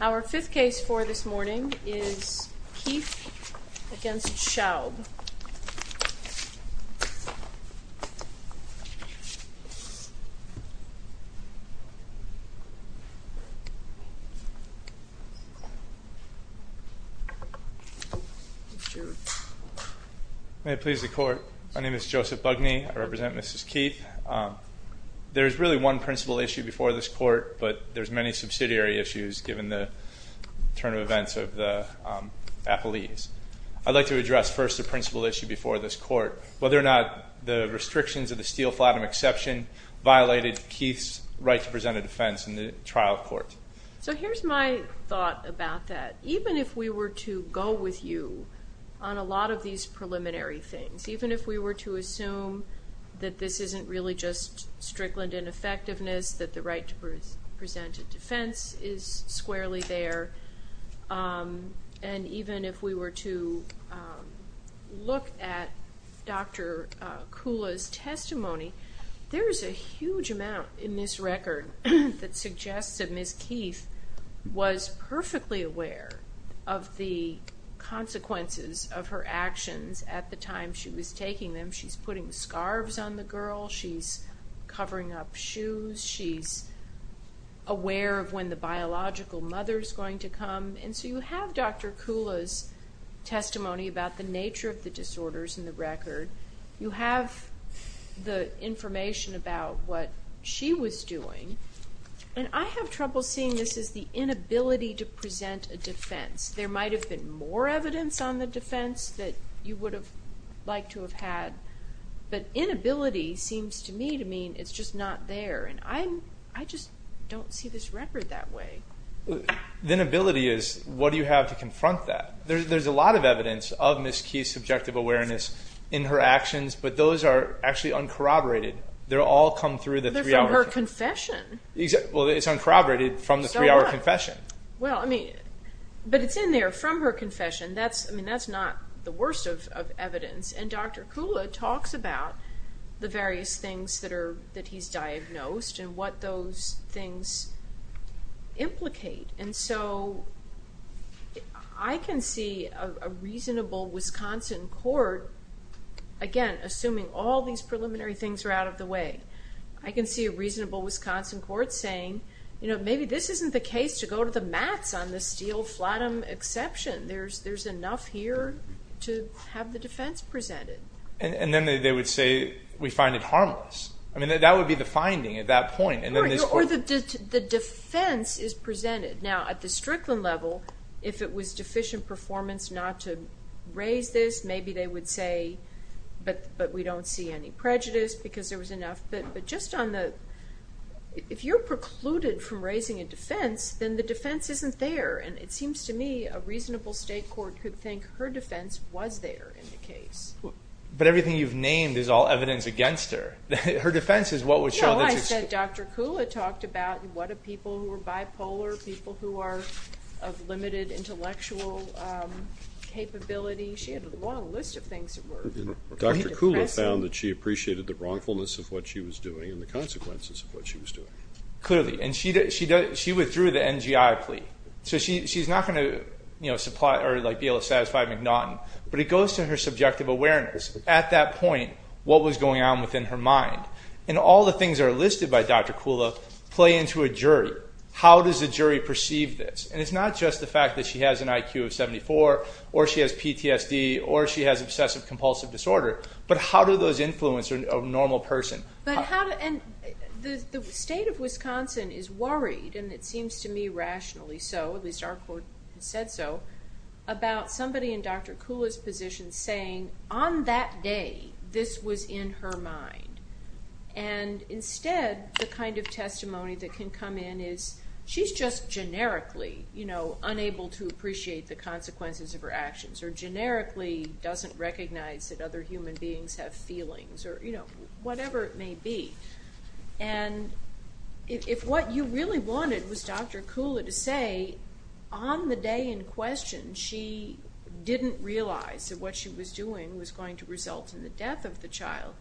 Our fifth case for this morning is Keith v. Deanne Schaub Joseph Bugney May it please the court, my name is Joseph Bugney, I represent Mrs. Keith. There is really one principal issue before this court, but there are many subsidiary issues given the turn of events of the appellees. I'd like to address first the principal issue before this court, whether or not the restrictions of the Steele-Flatim exception violated Keith's right to present a defense in the trial court. Deanne Schaub So here's my thought about that. Even if we were to go with you on a lot of these preliminary things, even if we were to assume that this isn't really just Strickland ineffectiveness, that the right to present a defense is squarely there, and even if we were to look at Dr. Kula's testimony, there's a huge amount in this record that suggests that Mrs. Keith was perfectly aware of the consequences of her actions at the time she was taking them. She's putting scarves on the girl, she's covering up shoes, she's aware of when the biological mother is going to come, and so you have Dr. Kula's testimony about the nature of the disorders in the record. You have the information about what she was doing, and I have trouble seeing this as the inability to present a defense. There might have been more evidence on the defense that you would have liked to have had, but inability seems to me to mean it's just not there, and I just don't see this record that way. Michael O'Hara The inability is, what do you have to confront that? There's a lot of evidence of Mrs. Keith's subjective awareness in her actions, but those are actually uncorroborated. They all come through the three-hour confession. Deanne Schaub They're from her confession. Michael O'Hara Well, it's uncorroborated from the three-hour confession. Deanne Schaub Well, but it's in there from her confession. That's not the worst of evidence, and Dr. Kula talks about the various things that he's diagnosed and what those things implicate, and so I can see a reasonable Wisconsin court, again, assuming all these preliminary things are out of the way, I can see a reasonable Wisconsin court saying, you know, maybe this isn't the case to go to the mats on the Steele-Flattom exception. There's enough here to have the defense presented. Michael O'Hara And then they would say, we find it harmless. I mean, that would be the finding at that point. Deanne Schaub Or the defense is presented. Now, at the Strickland level, if it was deficient performance not to raise this, maybe they would say, but we don't see any prejudice because there was enough. But just on the, if you're precluded from raising a defense, then the defense isn't there, and it seems to me a reasonable state court could think her defense was there in the case. Michael O'Hara But everything you've named is all evidence against her. Her defense is what would show that she's... Deanne Schaub No, I said Dr. Kula talked about what are people who are bipolar, people who are of limited intellectual capability. She had a long list of things that were depressing. Michael O'Hara Dr. Kula found that she appreciated the wrongfulness of what she was doing and the consequences of what she was doing. Michael O'Hara Clearly, and she withdrew the NGI plea. So she's not going to, you know, be able to satisfy McNaughton, but it goes to her subjective awareness. At that point, what was going on within her mind? And all the things that are listed by Dr. Kula play into a jury. How does the jury perceive this? And it's not just the fact that she has an IQ of 74, or she has PTSD, or she has obsessive compulsive disorder, but how do those influence a normal person? Deanne Schaub But how, and the state of Wisconsin is worried, and it seems to me rationally so, at least our court said so, about somebody in Dr. Kula's position saying, on that day, this was in her mind. And instead, the kind of testimony that can come in is, she's just generically, you know, unable to appreciate the consequences of her actions, or generically doesn't recognize that other human beings have feelings, or, you know, whatever it may be. And if what you really wanted was Dr. Kula to say, on the day in question, she didn't realize that what she was doing was going to result in the death of the child,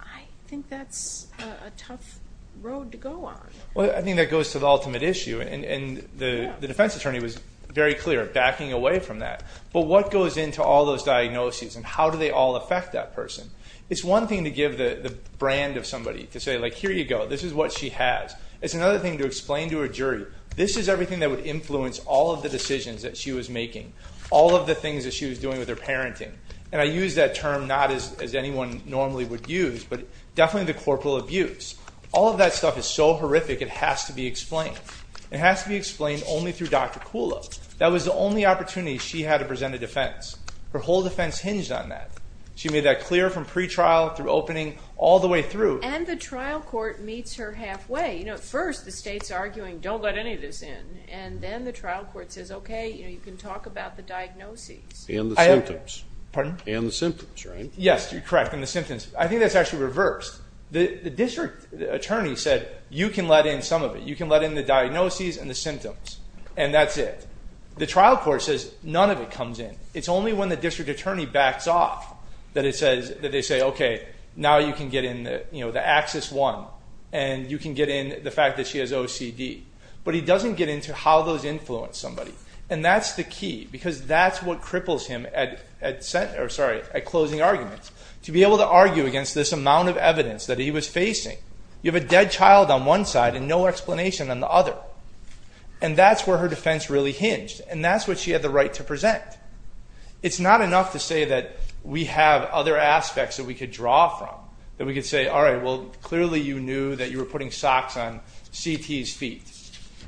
I think that's a tough road to go on. Eric Green Well, I think that goes to the ultimate issue, and the defense attorney was very clear, backing away from that. But what goes into all those diagnoses, and how do they all affect that person? It's one thing to give the brand of somebody, to say, like, here you go, this is what she has. It's another thing to explain to a jury, this is everything that would influence all of the decisions that she was making, all of the things that she was doing with her parenting. And I use that term not as anyone normally would use, but definitely the corporal abuse. All of that stuff is so horrific, it has to be explained. It has to be explained only through Dr. Kula. That was the only opportunity she had to present a defense. Her whole defense hinged on that. She made that clear from pre-trial, through opening, all the way through. And the trial court meets her halfway. You know, at first, the state's arguing, don't let any of this in. And then the trial court says, okay, you can talk about the diagnoses. And the symptoms, right? Yes, correct, and the symptoms. I think that's actually reversed. The district attorney said, you can let in some of it. You can let in the diagnoses and the symptoms, and that's it. The trial court says, none of it comes in. It's only when the district attorney backs off that they say, okay, now you can get in the axis one, and you can get in the fact that she has OCD. But he doesn't get into how those influence somebody. And that's the key, because that's what cripples him at closing arguments, to be able to argue against this amount of evidence that he was facing. You have a dead child on one side and no explanation on the other. And that's where her defense really hinged, and that's what she had the right to present. It's not enough to say that we have other aspects that we could draw from, that we could say, all right, well, clearly you knew that you were putting socks on CT's feet.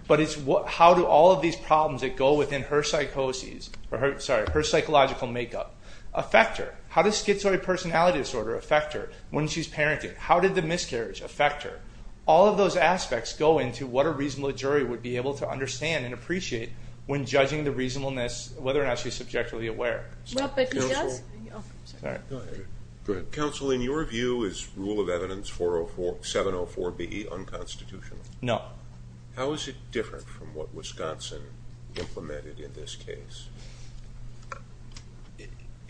But it's how do all of these problems that go within her psychosis, or her psychological makeup, affect her? How does schizoid personality disorder affect her when she's parenting? How did the miscarriage affect her? All of those aspects go into what a reasonable jury would be able to understand and appreciate when judging the reasonableness, whether or not she's subjectively aware. Counsel, in your view, is Rule of Evidence 704B unconstitutional? No. How is it different from what Wisconsin implemented in this case?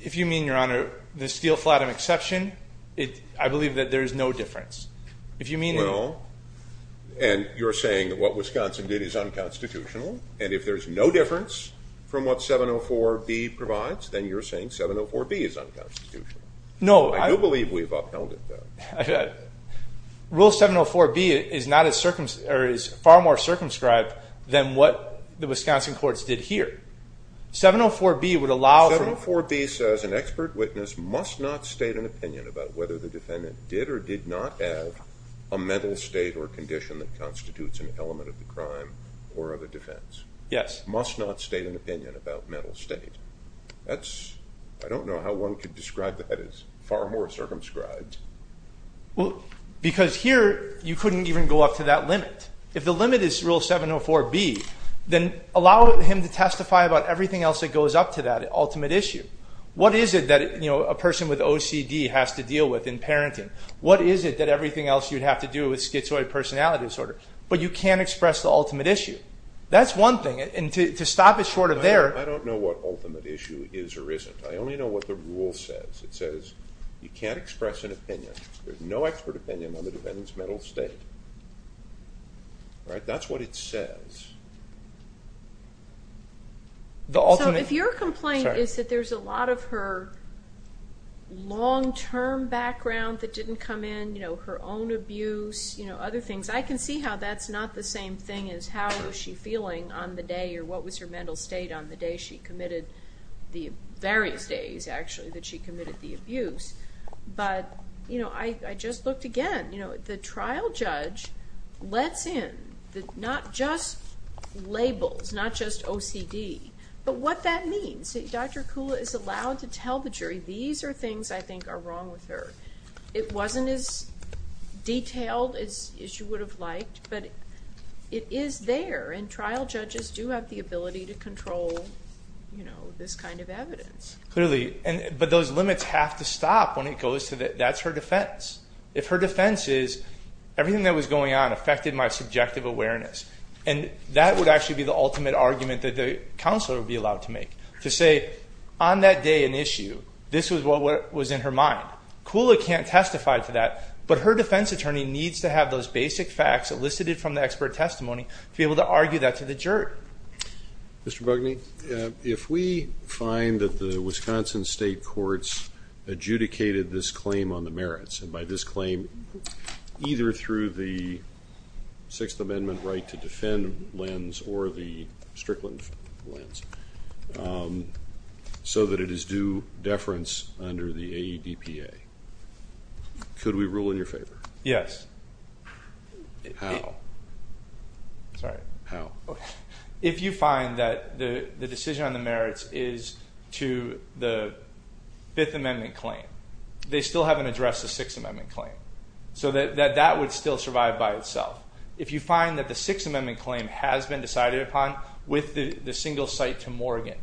If you mean, Your Honor, the Steele-Flattom exception, I believe that there is no difference. Well, and you're saying that what Wisconsin did is unconstitutional, and if there's no difference from what 704B provides, then you're saying 704B is unconstitutional. No. I do believe we've upheld it, though. Rule 704B is far more circumscribed than what the Wisconsin courts did here. 704B would allow for... 704B says an expert witness must not state an opinion about whether the defendant did or did not have a mental state or condition that constitutes an element of the crime or of a defense. Yes. Must not state an opinion about mental state. That's... I don't know how one could describe that as far more circumscribed. Well, because here, you couldn't even go up to that limit. If the limit is Rule 704B, then allow him to testify about everything else that goes up to that ultimate issue. What is it that a person with OCD has to deal with in parenting? What is it that everything else you'd have to do with schizoid personality disorder? But you can't express the ultimate issue. That's one thing, and to stop it short of there... I don't know what ultimate issue is or isn't. I only know what the rule says. It says you can't express an opinion. There's no expert opinion on the defendant's mental state. Right? That's what it says. The ultimate... So if your complaint is that there's a lot of her long-term background that didn't come in, you know, her own abuse, you know, other things, I can see how that's not the same thing as how was she feeling on the day or what was her mental state on the day she committed the... various days, actually, that she committed the abuse. But, you know, I just looked again. The trial judge lets in not just labels, not just OCD, but what that means. Dr. Kula is allowed to tell the jury, these are things I think are wrong with her. It wasn't as detailed as you would have liked, but it is there. And trial judges do have the ability to control, you know, this kind of evidence. Clearly, but those limits have to stop when it goes to that's her defense. If her defense is, everything that was going on affected my subjective awareness, and that would actually be the ultimate argument that the counselor would be allowed to make. To say, on that day, an issue, this was what was in her mind. Kula can't testify to that, but her defense attorney needs to have those basic facts elicited from the expert testimony to be able to argue that to the jury. Mr. Bugney, if we find that the Wisconsin State Courts adjudicated this claim on the merits, and by this claim, either through the Sixth Amendment right to defend lens, or the Strickland lens, so that it is due deference under the AEDPA, could we rule in your favor? Yes. How? Sorry. How? If you find that the decision on the merits is to the Fifth Amendment claim, they still haven't addressed the Sixth Amendment claim, so that that would still survive by itself. If you find that the Sixth Amendment claim has been decided upon with the single cite to Morgan,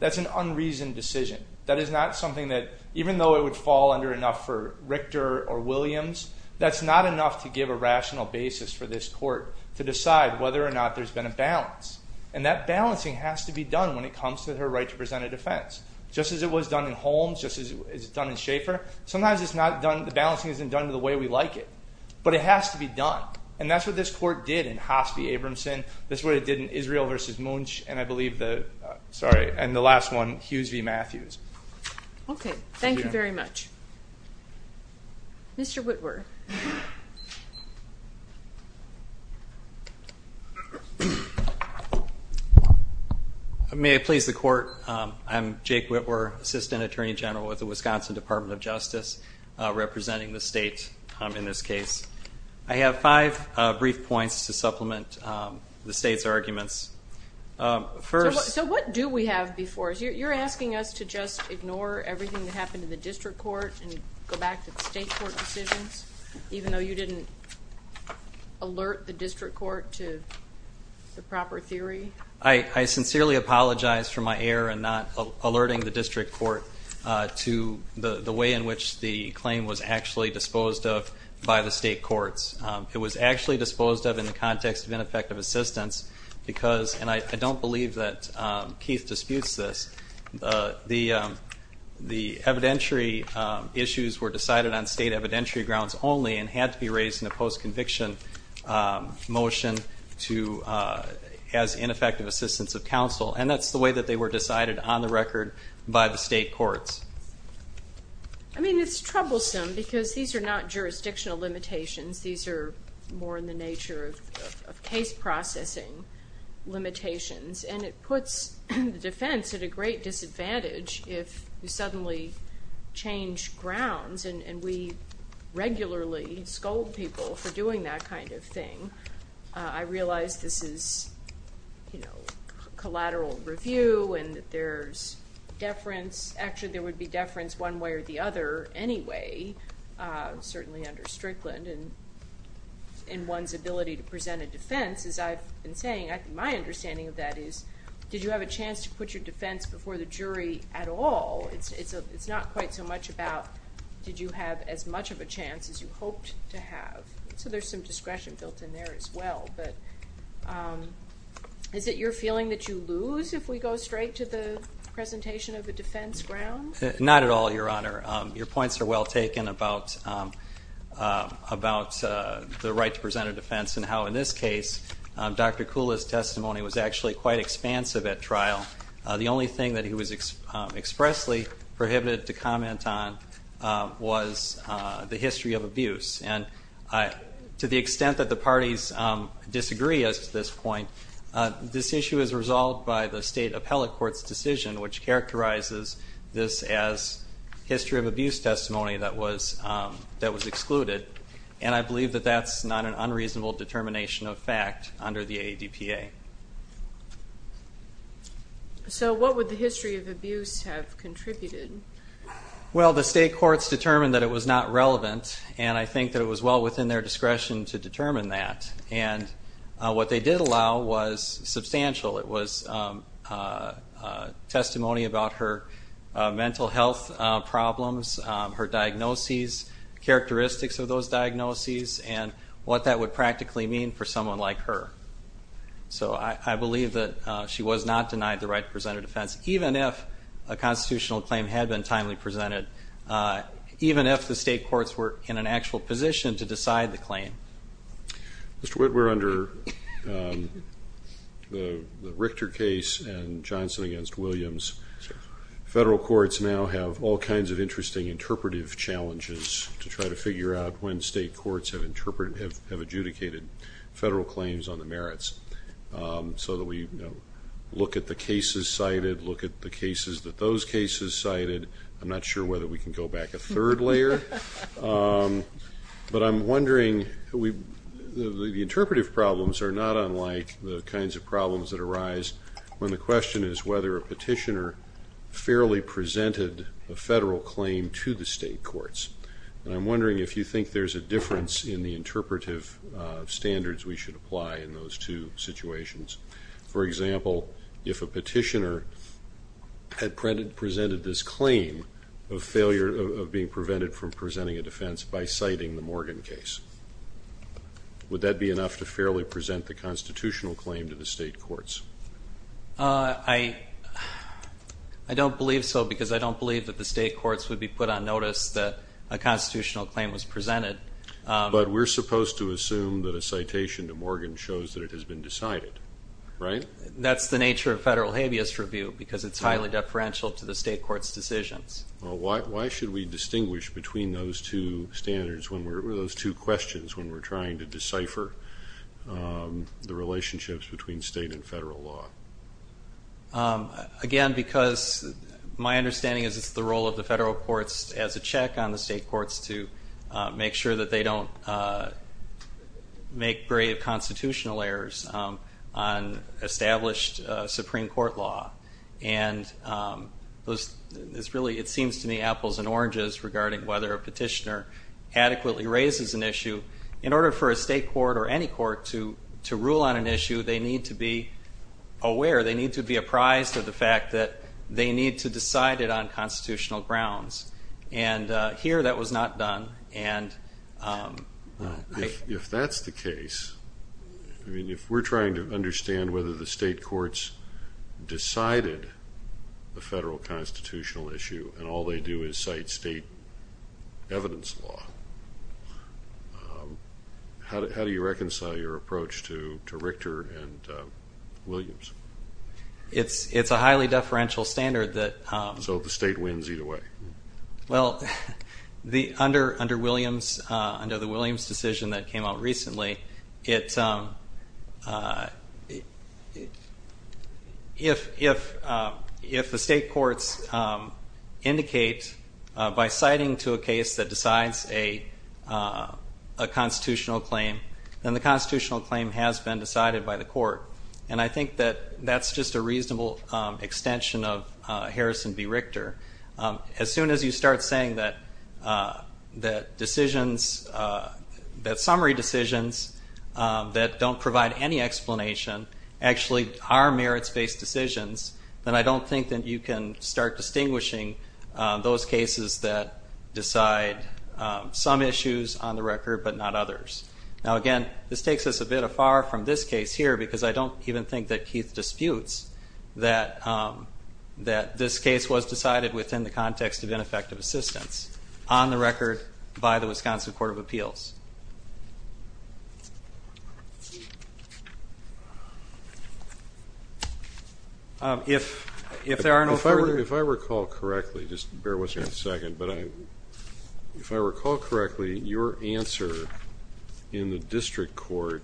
that's an unreasoned decision. That is not something that, even though it would fall under enough for Richter or Williams, that's not enough to give a rational basis for this court to decide whether or not there's been a balance. And that balancing has to be done when it comes to her right to present a defense. Just as it was done in Holmes, just as it was done in Schaefer, sometimes it's not done, the balancing isn't done the way we like it. But it has to be done. And that's what this court did in Hospi-Abramson, that's what it did in Israel v. Munch, and I believe the, sorry, and the last one, Hughes v. Matthews. Okay. Thank you very much. Mr. Witwer. May I please the court? I'm Jake Witwer, Assistant Attorney General with the Wisconsin Department of Justice, representing the state in this case. I have five brief points to supplement the state's arguments. First... So what do we have before us? You're asking us to just ignore everything that happened in the district court and go back to the state court decisions, even though you didn't alert the district court to the proper theory? I sincerely apologize for my error in not alerting the district court to the way in which the claim was actually disposed of by the state courts. It was actually disposed of in the context of ineffective assistance because, and I don't believe that Keith disputes this, the evidentiary issues were decided on state evidentiary grounds only and had to be raised in a post-conviction motion as ineffective assistance of counsel. And that's the way that they were decided on the record by the state courts. I mean, it's troublesome because these are not jurisdictional limitations. These are more in the nature of case processing limitations. And it puts the defense at a great disadvantage if you suddenly change grounds, and we regularly scold people for doing that kind of thing. I realize this is, you know, collateral review and that there's deference. Actually, there would be deference one way or the other anyway, certainly under Strickland, in one's ability to present a defense. As I've been saying, my understanding of that is, did you have a chance to put your defense before the jury at all? It's not quite so much about did you have as much of a chance as you hoped to have. So there's some discretion built in there as well. But is it your feeling that you lose if we go straight to the presentation of the defense grounds? Not at all, Your Honor. Your points are well taken about the right to present a defense and how, in this case, Dr. Kula's testimony was actually quite expansive at trial. The only thing that he was expressly prohibited to comment on was the history of abuse. And to the extent that the parties disagree as to this point, this issue is resolved by the state appellate court's decision, which characterizes this as history of abuse testimony that was excluded. And I believe that that's not an unreasonable determination of fact under the ADPA. So what would the history of abuse have contributed? Well, the state courts determined that it was not relevant, and I think that it was well within their discretion to determine that. And what they did allow was substantial. It was testimony about her mental health problems, her diagnoses, characteristics of those diagnoses, and what that would practically mean for someone like her. So I believe that she was not denied the right to present a defense, even if a constitutional claim had been timely presented, even if the state courts were in an actual position to decide the claim. Mr. Whit, we're under the Richter case and Johnson against Williams. Federal courts now have all kinds of interesting interpretive challenges to try to figure out when state courts have adjudicated federal claims on the merits. So that we look at the cases cited, look at the cases that those cases cited. I'm not sure whether we can go back a third layer. But I'm wondering, the interpretive problems are not unlike the kinds of problems that arise when the question is whether a petitioner fairly presented a federal claim to the state courts. And I'm wondering if you think there's a difference in the interpretive standards we should apply in those two situations. For example, if a petitioner had presented this claim of failure of being prevented from presenting a defense by citing the Morgan case, would that be enough to fairly present the constitutional claim to the state courts? I don't believe so, because I don't believe that the state courts would be put on notice that a constitutional claim was presented. But we're supposed to assume that a citation to Morgan shows that it has been decided, right? That's the nature of federal habeas review, because it's highly deferential to the state courts' decisions. Why should we distinguish between those two standards, those two questions, when we're trying to decipher the relationships between state and federal law? Again, because my understanding is it's the role of the federal courts as a check on the state courts to make sure that they don't make grave constitutional errors on established Supreme Court law. And it seems to me apples and oranges regarding whether a petitioner adequately raises an issue. In order for a state court or any court to rule on an issue, they need to be aware, they need to be apprised of the fact that they need to decide it on constitutional grounds. And here that was not done. If that's the case, if we're trying to understand whether the state courts decided the federal constitutional issue and all they do is cite state evidence law, how do you reconcile your approach to Richter and Williams? It's a highly deferential standard that... So the state wins either way. Well, under the Williams decision that came out recently, if the state courts indicate by citing to a case that decides a constitutional claim, then the constitutional claim has been decided by the court. And I think that that's just a reasonable extension of Harrison v. Richter. As soon as you start saying that decisions, that summary decisions that don't provide any explanation actually are merits-based decisions, then I don't think that you can start distinguishing those cases that decide some issues on the record but not others. Now again, this takes us a bit afar from this case here because I don't even think that Keith disputes that this case was decided within the context of ineffective assistance. On the record, by the Wisconsin Court of Appeals. If there are no further... If I recall correctly, just bear with me a second, but if I recall correctly, your answer in the district court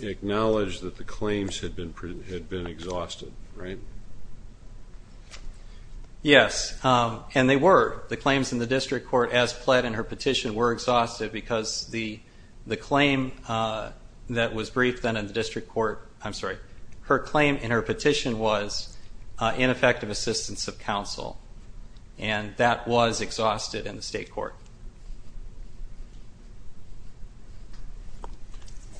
acknowledged that the claims had been exhausted, right? Yes, and they were. The claims in the district court as pled in her petition were exhausted because the claim that was briefed then in the district court, I'm sorry, her claim in her petition was ineffective assistance of counsel. And that was exhausted in the state court.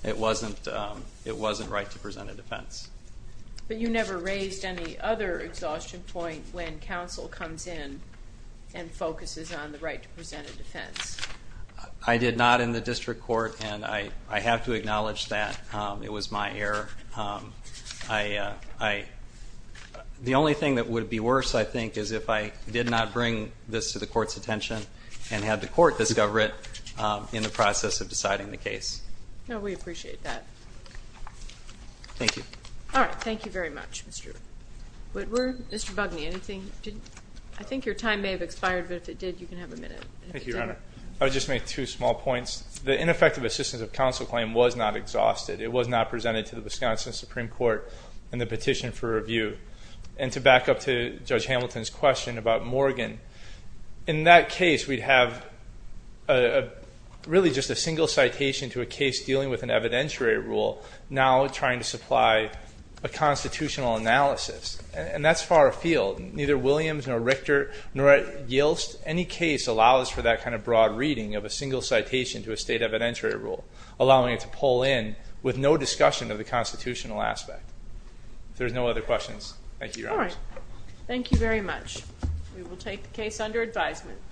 It wasn't right to present a defense. But you never raised any other exhaustion point when counsel comes in and focuses on the right to present a defense. I did not in the district court, and I have to acknowledge that. It was my error. The only thing that would be worse, I think, is if I did not bring this to the court's attention and had the court discover it in the process of deciding the case. No, we appreciate that. Thank you. All right, thank you very much, Mr. Whitworth. Mr. Bugney, I think your time may have expired, but if it did, you can have a minute. Thank you, Your Honor. I would just make two small points. The ineffective assistance of counsel claim was not exhausted. It was not presented to the Wisconsin Supreme Court in the petition for review. And to back up to Judge Hamilton's question about Morgan, in that case, we'd have really just a single citation to a case dealing with an evidentiary rule now trying to supply a constitutional analysis. And that's far afield. Neither Williams nor Richter nor Yiltsch, any case allows for that kind of broad reading of a single citation to a state evidentiary rule, allowing it to pull in with no discussion of the constitutional aspect. If there's no other questions, thank you, Your Honor. All right. Thank you very much. We will take the case under advisement.